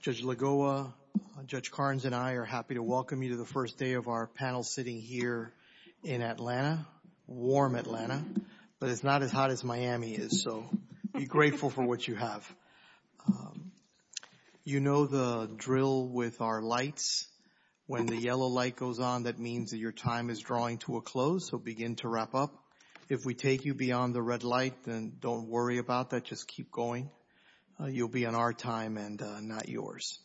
Judge Lagoa, Judge Carnes, and I are happy to welcome you to the first day of our panel sitting here in Atlanta, warm Atlanta, but it's not as hot as Miami is, so be grateful for what you have. You know the drill with our lights. When the yellow light goes on, that means that your time is drawing to a close, so begin to wrap up. If we take you beyond the red light, then don't worry about that. Just keep going. You'll be on our time and not yours.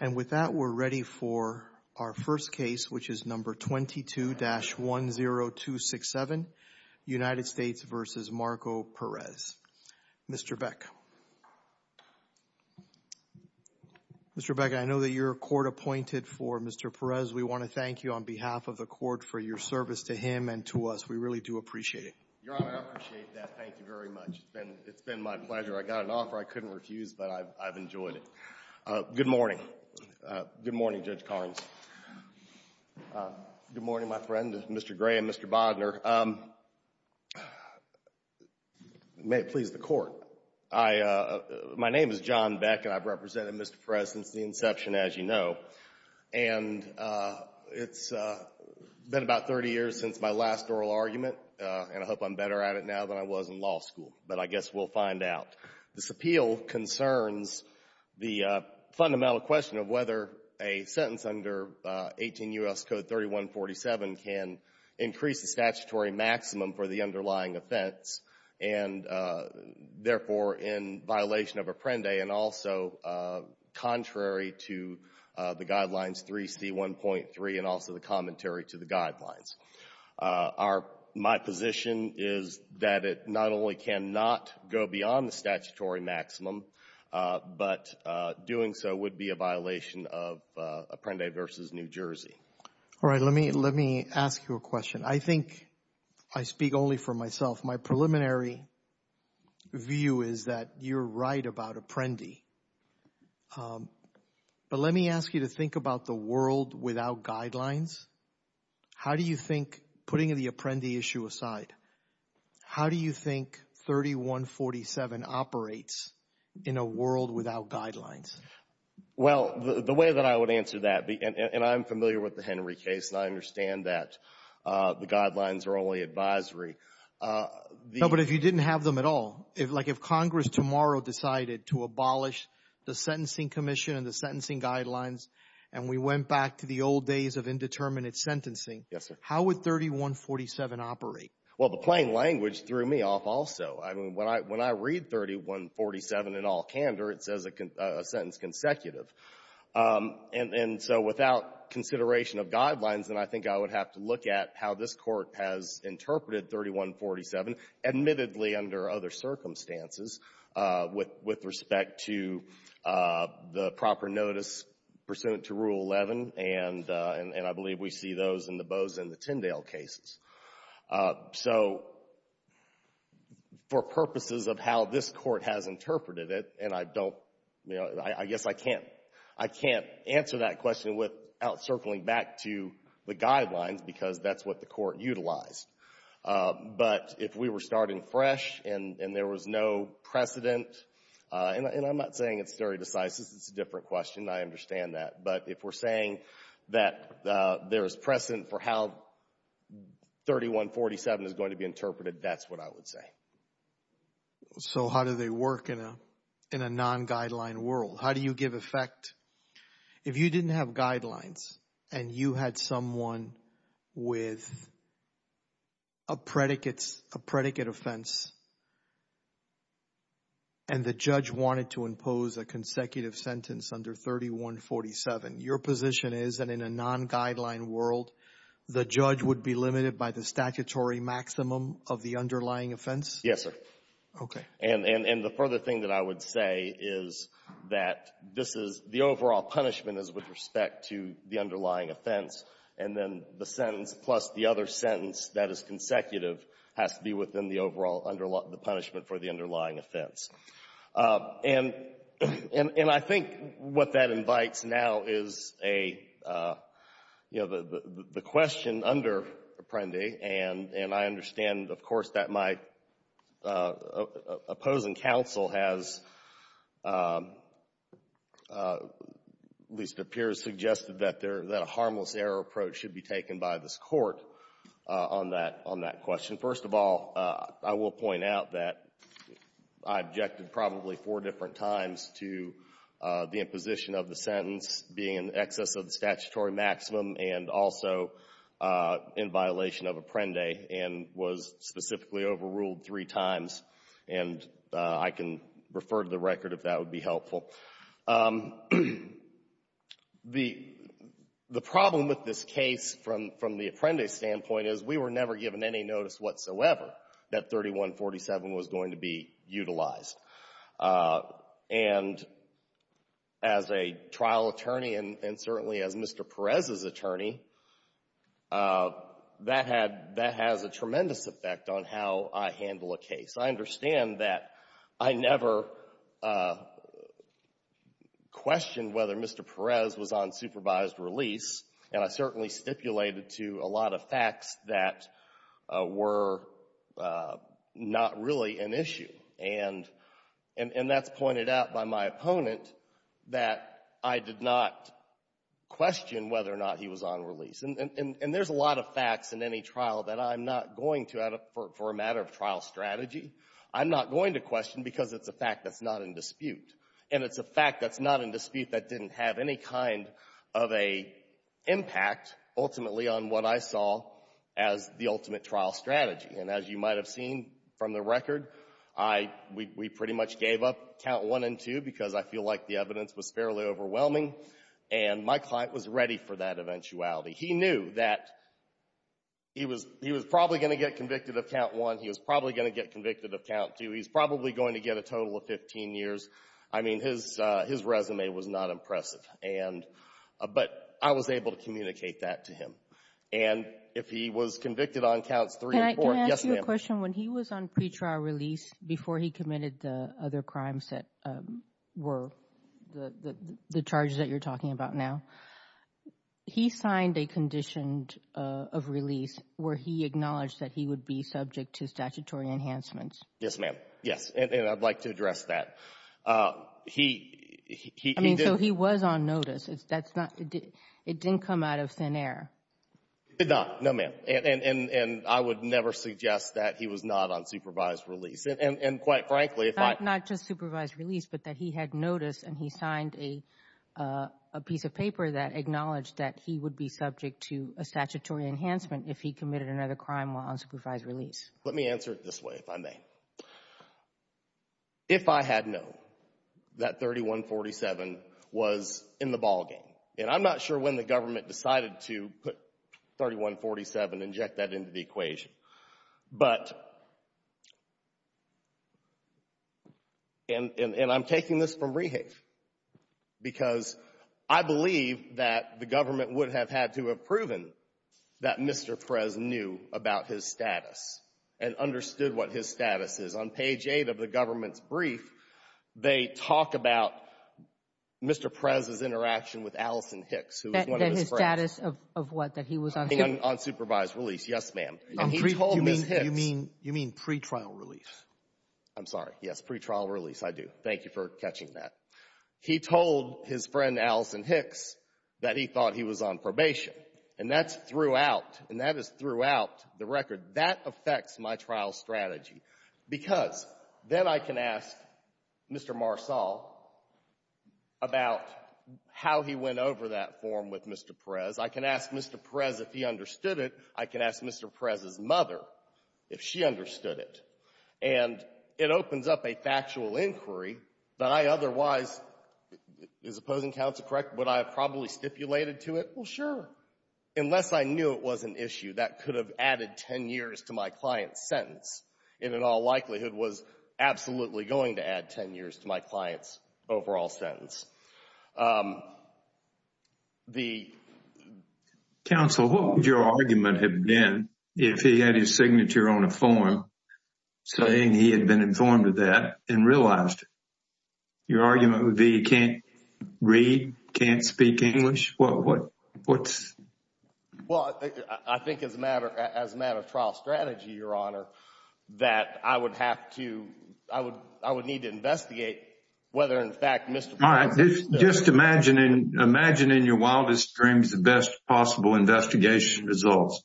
And with that, we're ready for our first case, which is No. 22-10267, United States v. Marco Perez. Mr. Beck. Mr. Beck, I know that you're a court appointed for Mr. Perez. We want to thank you on behalf of the court for your service to him and to us. We really do appreciate it. Your Honor, I appreciate that. Thank you very much. It's been my pleasure. I got an offer I couldn't refuse, but I've enjoyed it. Good morning. Good morning, Judge Carnes. Good morning, my friend, Mr. Gray and Mr. Bodner. May it please the court. My name is John Beck, and I've represented Mr. Perez since the inception, as you know, and it's been about 30 years since my last oral argument, and I hope I'm better at it now than I was in law school, but I guess we'll find out. This appeal concerns the fundamental question of whether a sentence under 18 U.S. Code 3147 can increase the statutory maximum for the underlying offense and, therefore, in violation of Apprende and also contrary to the Guidelines 3C1.3 and also the commentary to the Guidelines. My position is that it not only cannot go beyond the statutory maximum, but doing so would be a violation of Apprende v. New Jersey. All right. Let me ask you a question. I think I speak only for myself. My preliminary view is that you're right about Apprende, but let me ask you to think about the world without Guidelines. How do you think, putting the Apprende issue aside, how do you think 3147 operates in a world without Guidelines? Well, the way that I would answer that, and I'm familiar with the Henry case, and I understand that the Guidelines are only advisory, the — No, but if you didn't have them at all, like if Congress tomorrow decided to abolish the Sentencing Commission and the sentencing guidelines, and we went back to the old days of indeterminate sentencing — Yes, sir. — how would 3147 operate? Well, the plain language threw me off also. I mean, when I read 3147 in all candor, it says a sentence consecutive. And so without consideration of Guidelines, then I think I would have to look at how this Court has interpreted 3147, admittedly under other circumstances, with respect to the proper notice pursuant to Rule 11, and I believe we see those in the Bozeman and the Tyndale cases. So, for purposes of how this Court has interpreted it, and I don't, you know, I guess I can't answer that question without circling back to the Guidelines because that's what the Court utilized. But if we were starting fresh and there was no precedent — and I'm not saying it's very decisive. It's a different question. I understand that. But if we're saying that there is precedent for how 3147 is going to be interpreted, that's what I would say. So how do they work in a non-Guideline world? How do you give effect? If you didn't have Guidelines and you had someone with a predicate offense and the judge wanted to impose a consecutive sentence under 3147, your position is that in a non-Guideline world, the judge would be limited by the statutory maximum of the underlying offense? Yes, sir. Okay. And the further thing that I would say is that this is — the overall punishment is with respect to the underlying offense, and then the sentence plus the other sentence that is consecutive has to be within the overall — the punishment for the underlying offense. And I think what that invites now is a — you know, the question under Apprendi, and I understand, of course, that my opposing counsel has, at least it appears, suggested that a harmless error approach should be taken by this Court on that question. First of all, I will point out that I objected probably four different times to the imposition of the sentence being in excess of the statutory maximum and also in violation of Apprendi and was specifically overruled three times. And I can refer to the record if that would be helpful. The problem with this case from the Apprendi standpoint is we were never given any notice whatsoever that 3147 was going to be utilized. And as a trial attorney and certainly as Mr. Perez's attorney, that had — that has a tremendous effect on how I handle a case. I understand that I never questioned whether Mr. Perez was on supervised release, and I certainly stipulated to a lot of facts that were not really an issue. And that's pointed out by my opponent that I did not question whether or not he was on release. And there's a lot of facts in any trial that I'm not going to, for a matter of trial strategy, I'm not going to question because it's a fact that's not in dispute. And it's a fact that's not in dispute that didn't have any kind of a impact, ultimately, on what I saw as the ultimate trial strategy. And as you might have seen from the record, I — we pretty much gave up Count 1 and 2 because I feel like the evidence was fairly overwhelming, and my client was ready for that eventuality. He knew that he was — he was probably going to get convicted of Count 1. He was probably going to get convicted of Count 2. He was probably going to get a total of 15 years. I mean, his resume was not impressive. And — but I was able to communicate that to him. And if he was convicted on Counts 3 and 4 — Can I ask you a question? Yes, ma'am. When he was on pre-trial release before he committed the other crimes that were the charges that you're talking about now, he signed a condition of release where he acknowledged that he would be subject to statutory enhancements. Yes, ma'am. Yes. And I'd like to address that. He — I mean, so he was on notice. That's not — it didn't come out of thin air. It did not. No, ma'am. And I would never suggest that he was not on supervised release. And quite frankly, if I — Not just supervised release, but that he had notice and he signed a piece of paper that acknowledged that he would be subject to a statutory enhancement if he committed another crime while on supervised release. Let me answer it this way, if I may. If I had known that 3147 was in the ballgame — and I'm not sure when the government decided to put 3147 and inject that into the equation. But — and I'm taking this from Rehave, because I believe that the government would have had to have proven that Mr. Prez knew about his status and understood what his status is. On page 8 of the government's brief, they talk about Mr. Prez's interaction with Allison Hicks, who was one of his friends. That his status of what? That he was on — On supervised release. Yes, ma'am. And he told Ms. Hicks — You mean — you mean pre-trial release? I'm sorry. Yes. Pre-trial release, I do. Thank you for catching that. He told his friend, Allison Hicks, that he thought he was on probation. And that's throughout — and that is throughout the record. That affects my trial strategy, because then I can ask Mr. Marsal about how he went over that form with Mr. Prez. I can ask Mr. Prez if he understood it. I can ask Mr. Prez's mother if she understood it. And it opens up a factual inquiry that I otherwise — is opposing counsel correct? Would I have probably stipulated to it? Well, sure. Unless I knew it was an issue that could have added 10 years to my client's sentence. It in all likelihood was absolutely going to add 10 years to my client's overall sentence. The — Counsel, what would your argument have been if he had his signature on a form? Saying he had been informed of that and realized it. Your argument would be he can't read, can't speak English? What's — Well, I think as a matter of trial strategy, Your Honor, that I would have to — I would need to investigate whether in fact Mr. Prez — Just imagine in your wildest dreams the best possible investigation results.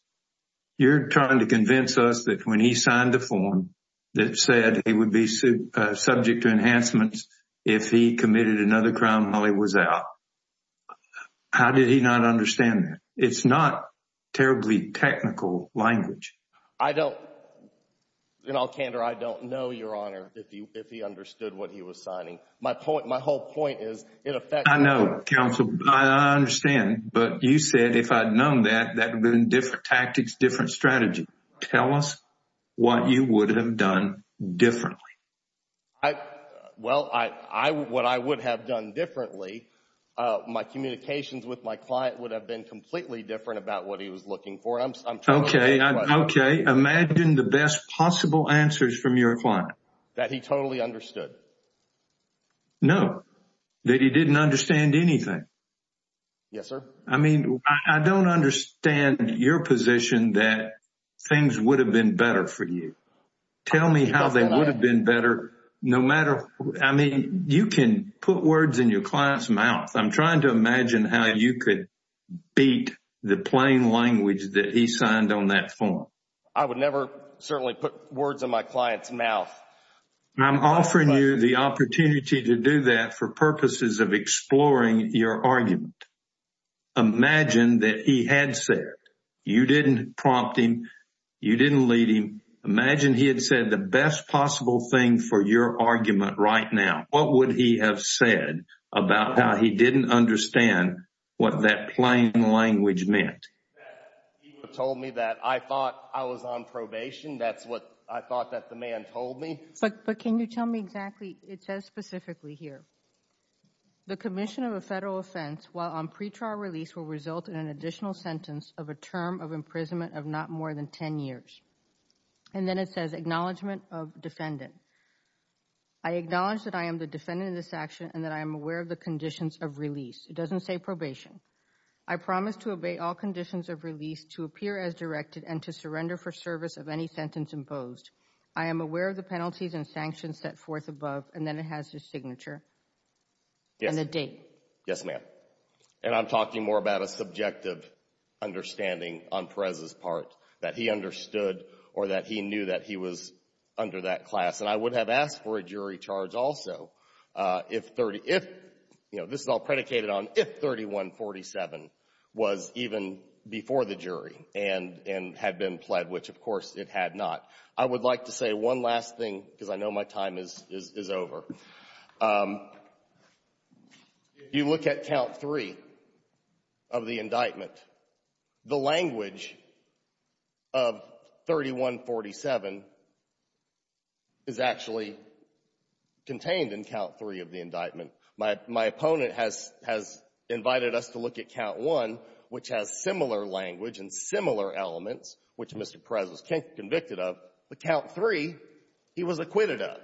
You're trying to convince us that when he signed the form that said he would be subject to enhancements if he committed another crime while he was out. How did he not understand that? It's not terribly technical language. I don't — in all candor, I don't know, Your Honor, if he understood what he was signing. My point — my whole point is it affects — I know, Counsel. I understand. But you said if I'd known that, that would have been different tactics, different strategy. Tell us what you would have done differently. I — well, I — what I would have done differently, my communications with my client would have been completely different about what he was looking for. I'm — Okay. Okay. Imagine the best possible answers from your client. That he totally understood. No. That he didn't understand anything. Yes, sir? I mean, I don't understand your position that things would have been better for you. Tell me how they would have been better, no matter — I mean, you can put words in your client's mouth. I'm trying to imagine how you could beat the plain language that he signed on that form. I would never, certainly, put words in my client's mouth. I'm offering you the opportunity to do that for purposes of exploring your argument. Imagine that he had said — you didn't prompt him. You didn't lead him. Imagine he had said the best possible thing for your argument right now. What would he have said about how he didn't understand what that plain language meant? That he would have told me that I thought I was on probation, that's what I thought that the man told me. But can you tell me exactly — it says specifically here. The commission of a federal offense, while on pretrial release, will result in an additional sentence of a term of imprisonment of not more than 10 years. And then it says, Acknowledgement of Defendant. I acknowledge that I am the defendant in this action and that I am aware of the conditions of release. It doesn't say probation. I promise to obey all conditions of release to appear as directed and to surrender for I am aware of the penalties and sanctions set forth above, and then it has his signature and the date. Yes, ma'am. And I'm talking more about a subjective understanding on Perez's part, that he understood or that he knew that he was under that class. And I would have asked for a jury charge also if — this is all predicated on if 3147 was even before the jury and had been pled, which, of course, it had not. I would like to say one last thing because I know my time is over. If you look at Count 3 of the indictment, the language of 3147 is actually contained in Count 3 of the indictment. My opponent has invited us to look at Count 1, which has similar language and similar elements, which Mr. Perez was convicted of, but Count 3, he was acquitted of.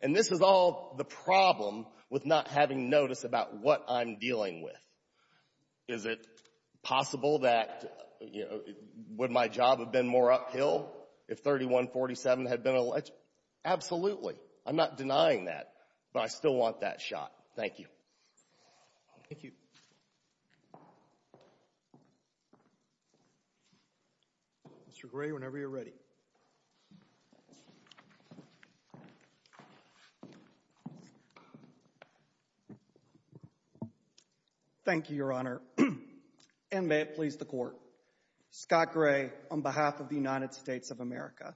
And this is all the problem with not having notice about what I'm dealing with. Is it possible that, you know, would my job have been more uphill if 3147 had been — absolutely. I'm not denying that, but I still want that shot. Thank you. Mr. Gray, whenever you're ready. Thank you, Your Honor, and may it please the Court. Scott Gray on behalf of the United States of America.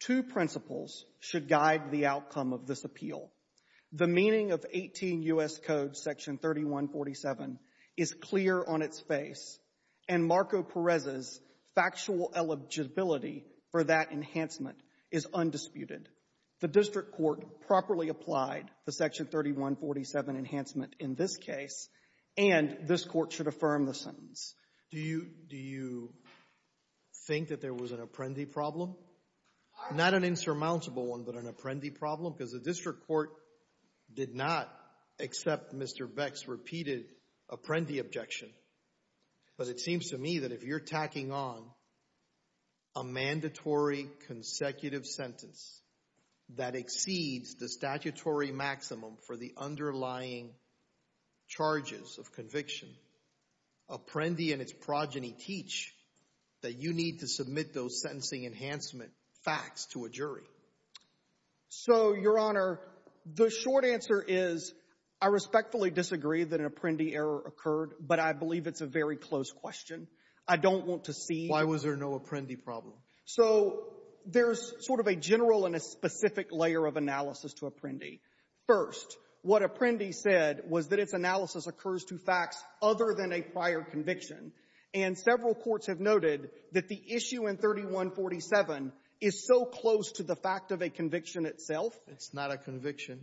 Two principles should guide the outcome of this appeal. The meaning of 18 U.S. Code Section 3147 is clear on its face, and Marco Perez's factual eligibility for that enhancement is undisputed. The district court properly applied the Section 3147 enhancement in this case, and this Court should affirm the sentence. Do you — do you think that there was an apprendi problem? Not an insurmountable one, but an apprendi problem, because the district court did not accept Mr. Beck's repeated apprendi objection. But it seems to me that if you're tacking on a mandatory consecutive sentence that exceeds the statutory maximum for the underlying charges of conviction, apprendi and its progeny teach that you need to submit those sentencing enhancement facts to a jury. So, Your Honor, the short answer is I respectfully disagree that an apprendi error occurred, but I believe it's a very close question. I don't want to see — Why was there no apprendi problem? So there's sort of a general and a specific layer of analysis to apprendi. First, what apprendi said was that its analysis occurs to facts other than a prior conviction, and several courts have noted that the issue in 3147 is so close to the fact of a conviction itself. It's not a conviction.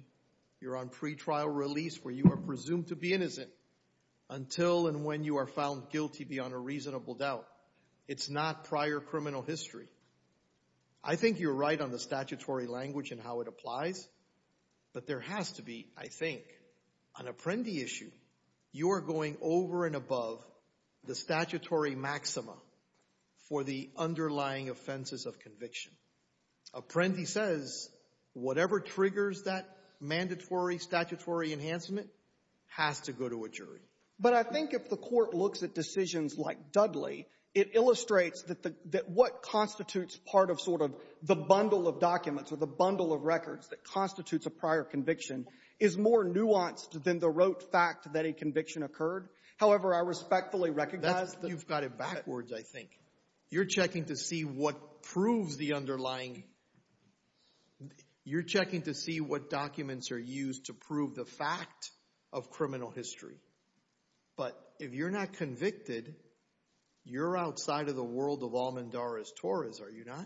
You're on pretrial release where you are presumed to be innocent until and when you are found guilty beyond a reasonable doubt. It's not prior criminal history. I think you're right on the statutory language and how it applies, but there has to be, I think, an apprendi issue. You are going over and above the statutory maxima for the underlying offenses of conviction. Apprendi says whatever triggers that mandatory statutory enhancement has to go to a jury. But I think if the court looks at decisions like Dudley, it illustrates that what constitutes part of sort of the bundle of documents or the bundle of records that constitutes a prior conviction is more nuanced than the rote fact that a conviction occurred. However, I respectfully recognize that... You've got it backwards, I think. You're checking to see what proves the underlying... You're checking to see what documents are used to prove the fact of criminal history. But if you're not convicted, you're outside of the world of almendares torres, are you not?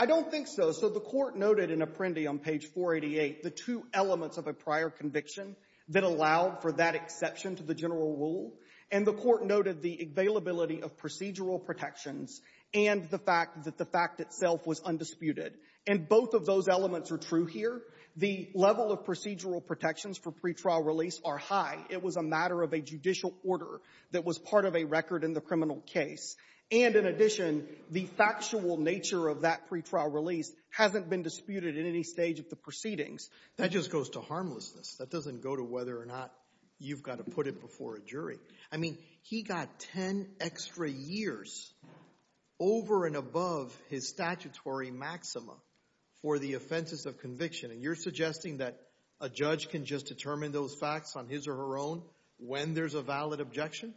I don't think so. So the court noted in apprendi on page 488 the two elements of a prior conviction that allowed for that exception to the general rule. And the court noted the availability of procedural protections and the fact that the fact itself was undisputed. And both of those elements are true here. The level of procedural protections for pretrial release are high. It was a matter of a judicial order that was part of a record in the criminal case. And in addition, the factual nature of that pretrial release hasn't been disputed in any stage of the proceedings. That just goes to harmlessness. That doesn't go to whether or not you've got to put it before a jury. I mean, he got 10 extra years over and above his statutory maxima for the offenses of conviction. And you're suggesting that a judge can just determine those facts on his or her own when there's a valid objection?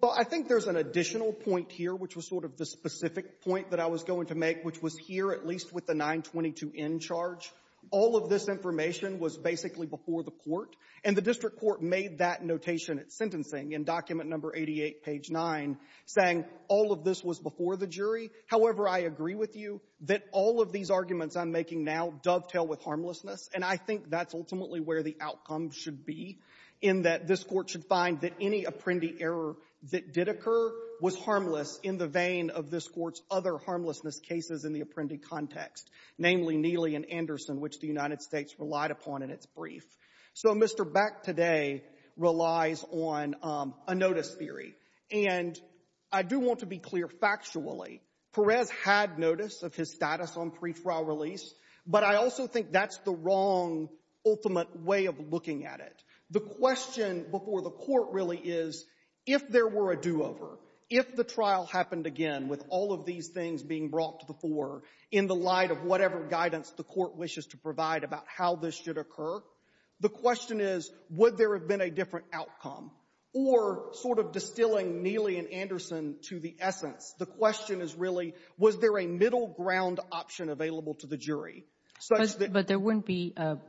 Well, I think there's an additional point here, which was sort of the specific point that I was going to make, which was here, at least with the 922n charge. All of this information was basically before the court. And the district court made that notation at sentencing in document number 88, page 9, saying all of this was before the jury. However, I agree with you that all of these arguments I'm making now dovetail with harmlessness. And I think that's ultimately where the outcome should be, in that this Court should find that any apprendi error that did occur was harmless in the vein of this Court's other harmlessness cases in the apprendi context, namely Neely and Anderson, which the United States relied upon in its brief. So Mr. Beck today relies on a notice theory. And I do want to be clear factually. Perez had notice of his status on pre-trial release. But I also think that's the wrong ultimate way of looking at it. The question before the court really is, if there were a do-over, if the trial happened again with all of these things being brought to the fore in the light of whatever guidance the court wishes to provide about how this should occur, the question is, would there have been a different outcome? Or sort of distilling Neely and Anderson to the essence, the question is really, was there a middle ground option available to the jury such that — that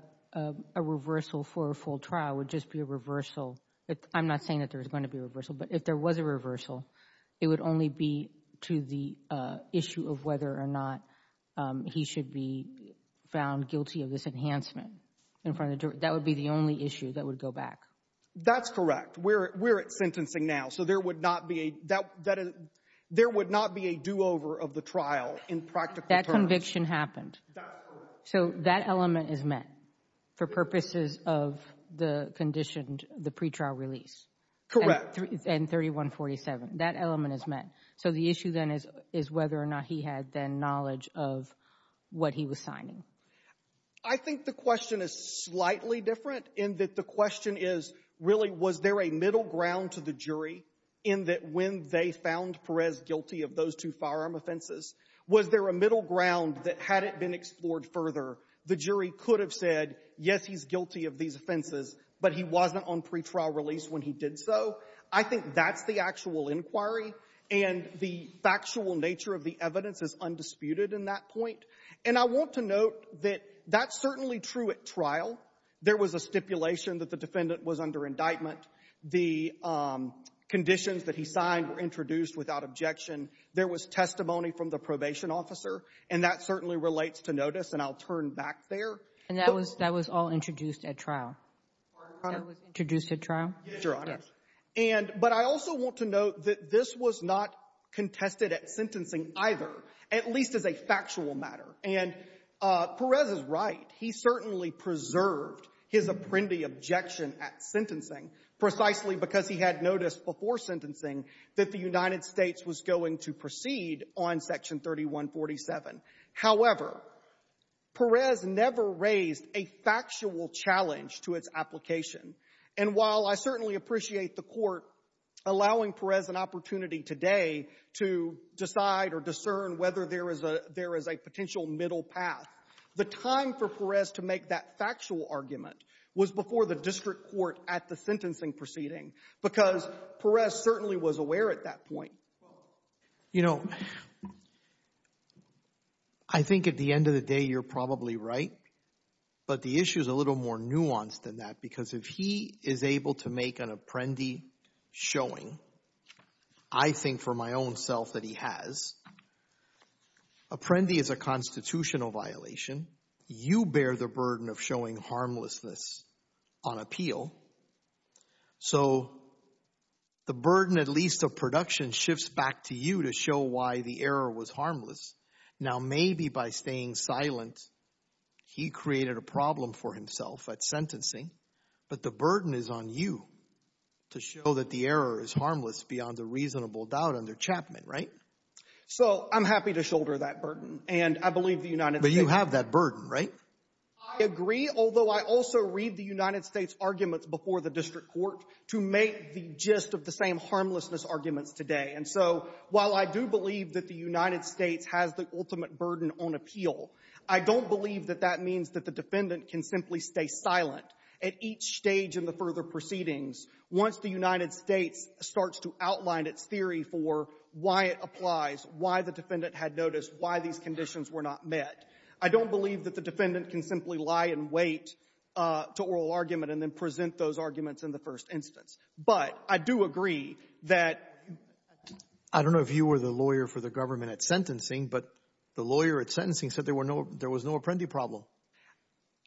a reversal for a full trial would just be a reversal — I'm not saying that there was going to be a reversal, but if there was a reversal, it would only be to the issue of whether or not he should be found guilty of this enhancement in front of the jury. That would be the only issue that would go back. That's correct. We're at sentencing now. So there would not be a — there would not be a do-over of the trial in practical terms. That conviction happened. That's correct. So that element is met for purposes of the conditioned — the pretrial release. Correct. And 3147. That element is met. So the issue then is whether or not he had then knowledge of what he was signing. I think the question is slightly different in that the question is really, was there a middle ground to the jury in that when they found Perez guilty of those two firearm offenses, was there a middle ground that had it been explored further, the jury could have said, yes, he's guilty of these offenses, but he wasn't on pretrial release when he did so. I think that's the actual inquiry, and the factual nature of the evidence is undisputed in that point. And I want to note that that's certainly true at trial. There was a stipulation that the defendant was under indictment. The conditions that he signed were introduced without objection. There was testimony from the probation officer, and that certainly relates to notice, and I'll turn back there. And that was all introduced at trial? Pardon, Your Honor? That was introduced at trial? Yes, Your Honor. Yes. And — but I also want to note that this was not contested at sentencing either, at least as a factual matter. And Perez is right. He certainly preserved his apprendi objection at sentencing precisely because he had sentencing that the United States was going to proceed on Section 3147. However, Perez never raised a factual challenge to its application. And while I certainly appreciate the Court allowing Perez an opportunity today to decide or discern whether there is a — there is a potential middle path, the time for Perez to make that factual argument was before the district court at the sentencing proceeding because Perez certainly was aware at that point. You know, I think at the end of the day you're probably right, but the issue is a little more nuanced than that because if he is able to make an apprendi showing, I think for my own self that he has, apprendi is a constitutional violation, you bear the burden of showing harmlessness on appeal, so the burden at least of production shifts back to you to show why the error was harmless. Now maybe by staying silent he created a problem for himself at sentencing, but the burden is on you to show that the error is harmless beyond a reasonable doubt under Chapman, right? So I'm happy to shoulder that burden, and I believe the United States — But you have that burden, right? I agree, although I also read the United States' arguments before the district court to make the gist of the same harmlessness arguments today. And so while I do believe that the United States has the ultimate burden on appeal, I don't believe that that means that the defendant can simply stay silent at each stage in the further proceedings once the United States starts to outline its theory for why it applies, why the defendant had noticed, why these conditions were not met. I don't believe that the defendant can simply lie and wait to oral argument and then present those arguments in the first instance. But I do agree that — I don't know if you were the lawyer for the government at sentencing, but the lawyer at sentencing said there was no apprendi problem.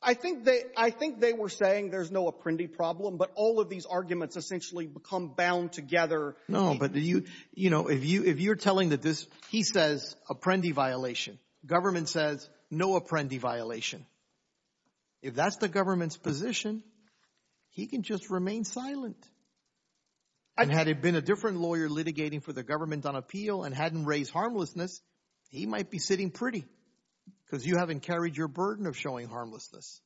I think they were saying there's no apprendi problem, but all of these arguments essentially become bound together. No, but if you're telling that this — he says apprendi violation. Government says no apprendi violation. If that's the government's position, he can just remain silent. And had it been a different lawyer litigating for the government on appeal and hadn't raised harmlessness, he might be sitting pretty because you haven't carried your burden of showing harmlessness.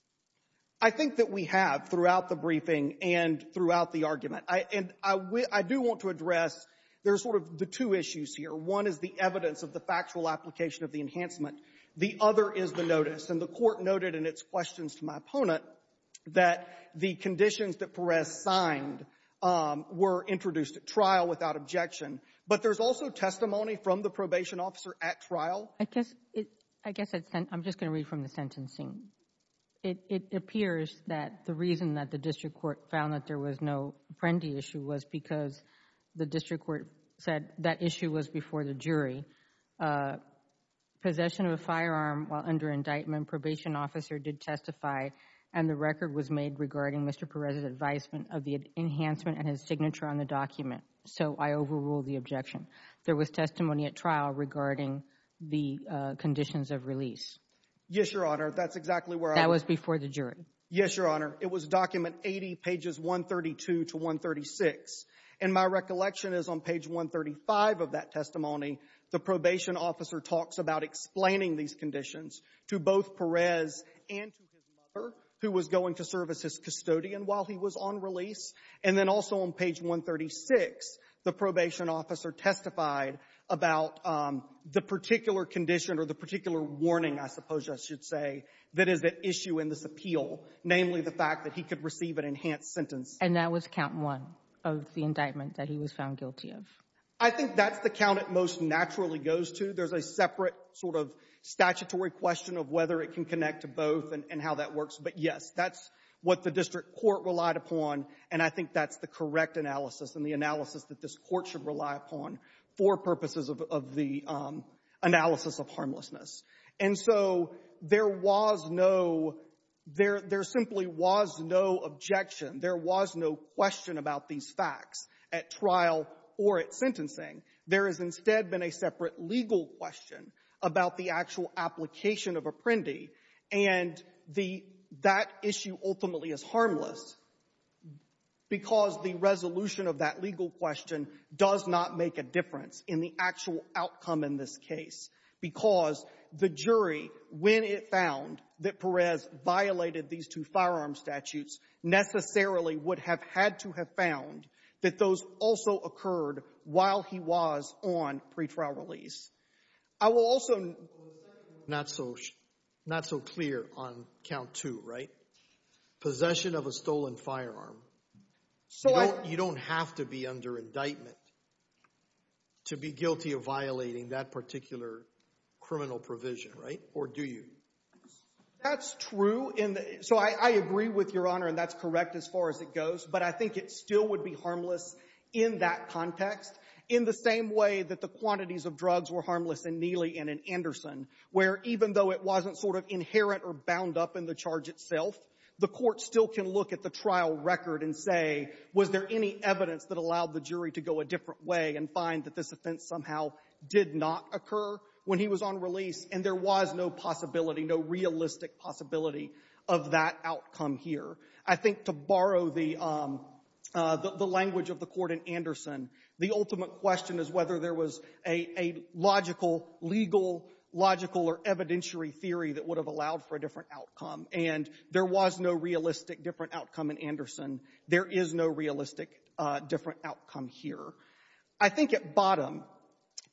I think that we have throughout the briefing and throughout the argument. And I do want to address — there's sort of the two issues here. One is the evidence of the factual application of the enhancement. The other is the notice. And the Court noted in its questions to my opponent that the conditions that Perez signed were introduced at trial without objection. But there's also testimony from the probation officer at trial. I guess — I guess I'm just going to read from the sentencing. It appears that the reason that the district court found that there was no apprendi issue was because the district court said that issue was before the jury. Possession of a firearm while under indictment, probation officer did testify, and the record was made regarding Mr. Perez's advisement of the enhancement and his signature on the document. So I overrule the objection. There was testimony at trial regarding the conditions of release. Yes, Your Honor. That's exactly where I — That was before the jury. Yes, Your Honor. It was document 80, pages 132 to 136. And my recollection is on page 135 of that testimony, the probation officer talks about explaining these conditions to both Perez and to his mother, who was going to serve as his custodian while he was on release. And then also on page 136, the probation officer testified about the particular condition or the particular warning, I suppose I should say, that is at issue in this And that was count one of the indictment that he was found guilty of? I think that's the count it most naturally goes to. There's a separate sort of statutory question of whether it can connect to both and how that works. But yes, that's what the district court relied upon, and I think that's the correct analysis and the analysis that this court should rely upon for purposes of the analysis of harmlessness. And so there was no — there simply was no objection. There was no question about these facts at trial or at sentencing. There has instead been a separate legal question about the actual application of Apprendi. And the — that issue ultimately is harmless because the resolution of that legal question does not make a difference in the actual outcome in this case. Because the jury, when it found that Perez violated these two firearm statutes, necessarily would have had to have found that those also occurred while he was on pretrial release. I will also — Well, the second one was not so — not so clear on count two, right? Possession of a stolen firearm. So I — You don't have to be under indictment to be guilty of violating that particular criminal provision, right? Or do you? That's true in the — so I agree with Your Honor, and that's correct as far as it goes. But I think it still would be harmless in that context in the same way that the quantities of drugs were harmless in Neely and in Anderson, where even though it wasn't sort of inherent or bound up in the charge itself, the court still can look at the trial record and say, was there any evidence that allowed the jury to go a different way and find that this offense somehow did not occur when he was on release? And there was no possibility, no realistic possibility of that outcome here. I think to borrow the language of the court in Anderson, the ultimate question is whether there was a logical, legal, logical or evidentiary theory that would have allowed for a different outcome. And there was no realistic different outcome in Anderson. There is no realistic different outcome here. I think at bottom,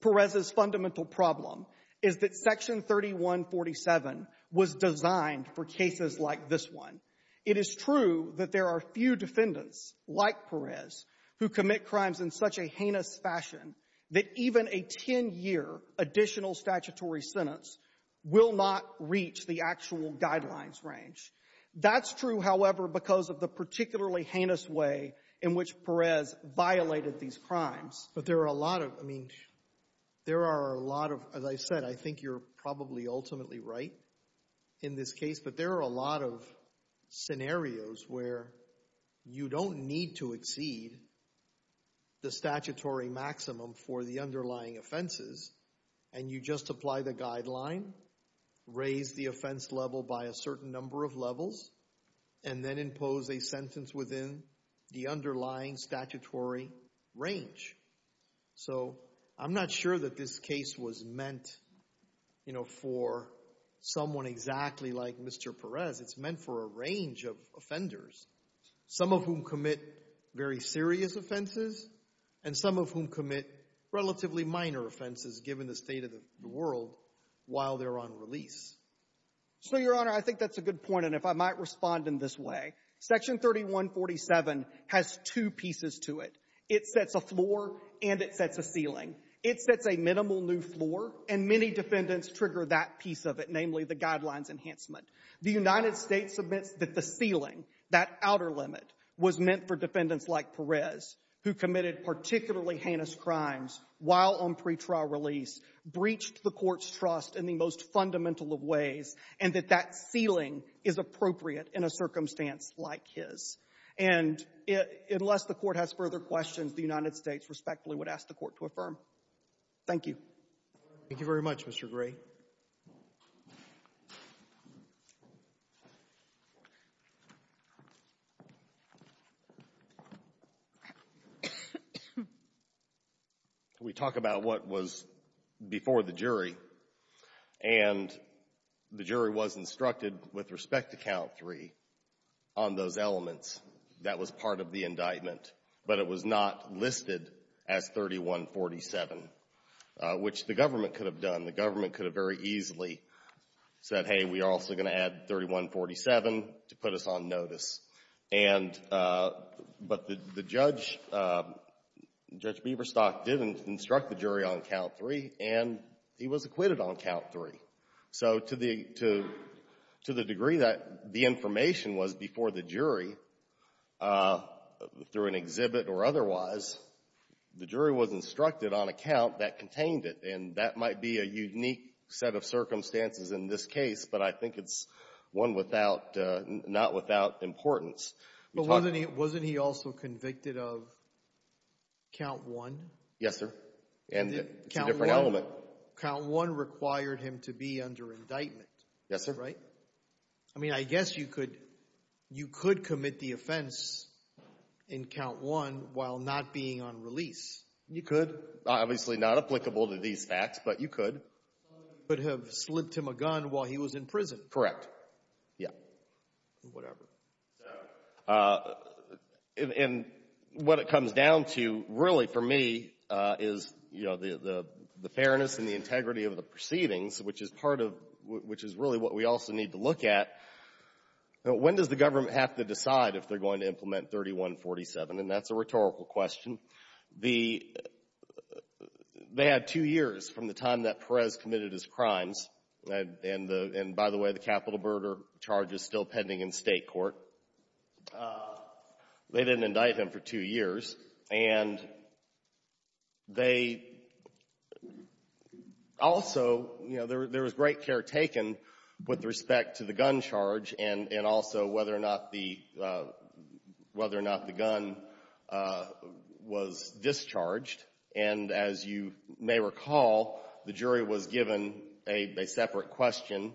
Perez's fundamental problem is that Section 3147 was designed for cases like this one. It is true that there are few defendants like Perez who commit crimes in such a heinous fashion that even a 10-year additional statutory sentence will not reach the actual guidelines range. That's true, however, because of the particularly heinous way in which Perez violated these crimes. But there are a lot of, I mean, there are a lot of, as I said, I think you're probably ultimately right in this case, but there are a lot of scenarios where you don't need to exceed the statutory maximum for the underlying offenses and you just apply the certain number of levels and then impose a sentence within the underlying statutory range. So I'm not sure that this case was meant, you know, for someone exactly like Mr. Perez. It's meant for a range of offenders, some of whom commit very serious offenses and some of whom commit relatively minor offenses given the state of the world while they're on release. So, Your Honor, I think that's a good point, and if I might respond in this way. Section 3147 has two pieces to it. It sets a floor and it sets a ceiling. It sets a minimal new floor, and many defendants trigger that piece of it, namely the guidelines enhancement. The United States admits that the ceiling, that outer limit, was meant for defendants like Perez who committed particularly heinous crimes while on pretrial release, breached the Court's trust in the most fundamental of ways, and that that ceiling is appropriate in a circumstance like his. And unless the Court has further questions, the United States respectfully would ask the Court to affirm. Thank you. Thank you very much, Mr. Gray. We talk about what was before the jury, and the jury was instructed, with respect to Count 3, on those elements. That was part of the indictment, but it was not listed as 3147, which the government could have done. The government could have very easily said, hey, we are also going to add 3147 to put us on notice. And but the judge, Judge Beaverstock, did instruct the jury on Count 3, and he was acquitted on Count 3. So to the degree that the information was before the jury, through an exhibit or And that might be a unique set of circumstances in this case, but I think it's one without, not without importance. But wasn't he also convicted of Count 1? Yes, sir. And it's a different element. Count 1 required him to be under indictment. Yes, sir. Right? I mean, I guess you could commit the offense in Count 1 while not being on release. You could. Obviously not applicable to these facts, but you could. But have slipped him a gun while he was in prison. Correct. Yeah. Whatever. And what it comes down to, really, for me, is, you know, the fairness and the integrity of the proceedings, which is part of, which is really what we also need to look at. When does the government have to decide if they're going to implement 3147? And that's a rhetorical question. The, they had two years from the time that Perez committed his crimes. And the, and by the way, the capital murder charge is still pending in state court. They didn't indict him for two years. And they, also, you know, there was great care taken with respect to the gun charge and, and also whether or not the, whether or not the gun was discharged. And as you may recall, the jury was given a separate question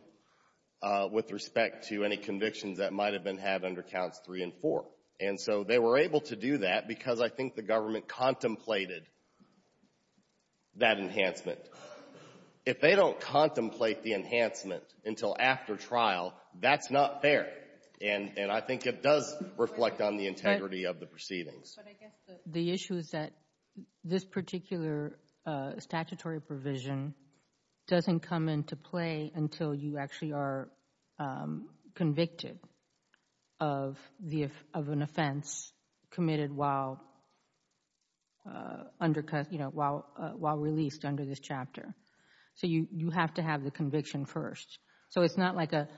with respect to any convictions that might have been had under Counts 3 and 4. And so they were able to do that because I think the government contemplated that enhancement. If they don't contemplate the enhancement until after trial, that's not fair. And, and I think it does reflect on the integrity of the proceedings. But I guess the issue is that this particular statutory provision doesn't come into play until you actually are convicted of the, of an offense committed while under, you know, while released under this chapter. So you, you have to have the conviction first. So it's not like a,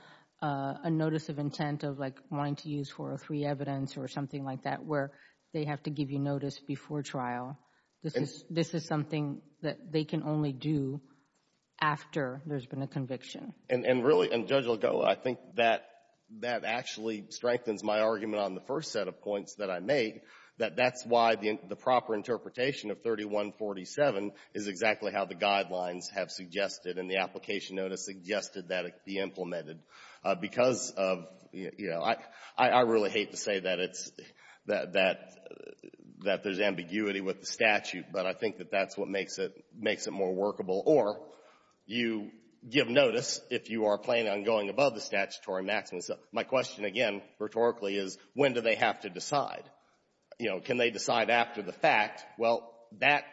a notice of intent of like wanting to use 403 evidence or something like that where they have to give you notice before trial. This is, this is something that they can only do after there's been a conviction. And, and really, and Judge Lagoa, I think that, that actually strengthens my argument on the first set of points that I made, that that's why the, the proper interpretation of 3147 is exactly how the guidelines have suggested and the application notice suggested that it be implemented. Because of, you know, I, I really hate to say that it's, that, that there's ambiguity with the statute, but I think that that's what makes it, makes it more workable. Or you give notice if you are planning on going above the statutory maximum. So my question, again, rhetorically, is when do they have to decide? You know, can they decide after the fact? Well, that,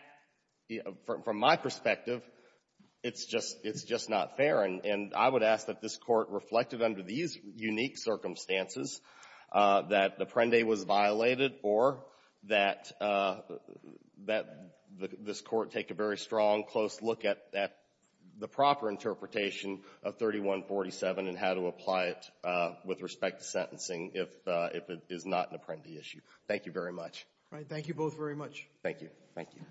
from, from my perspective, it's just, it's just not fair. And, and I would ask that this Court reflected under these unique circumstances that Apprende was violated or that, that this Court take a very strong, close look at, at the proper interpretation of 3147 and how to apply it with respect to sentencing if, if it is not an Apprende issue. Thank you very much. All right. Thank you both very much. Thank you. Thank you.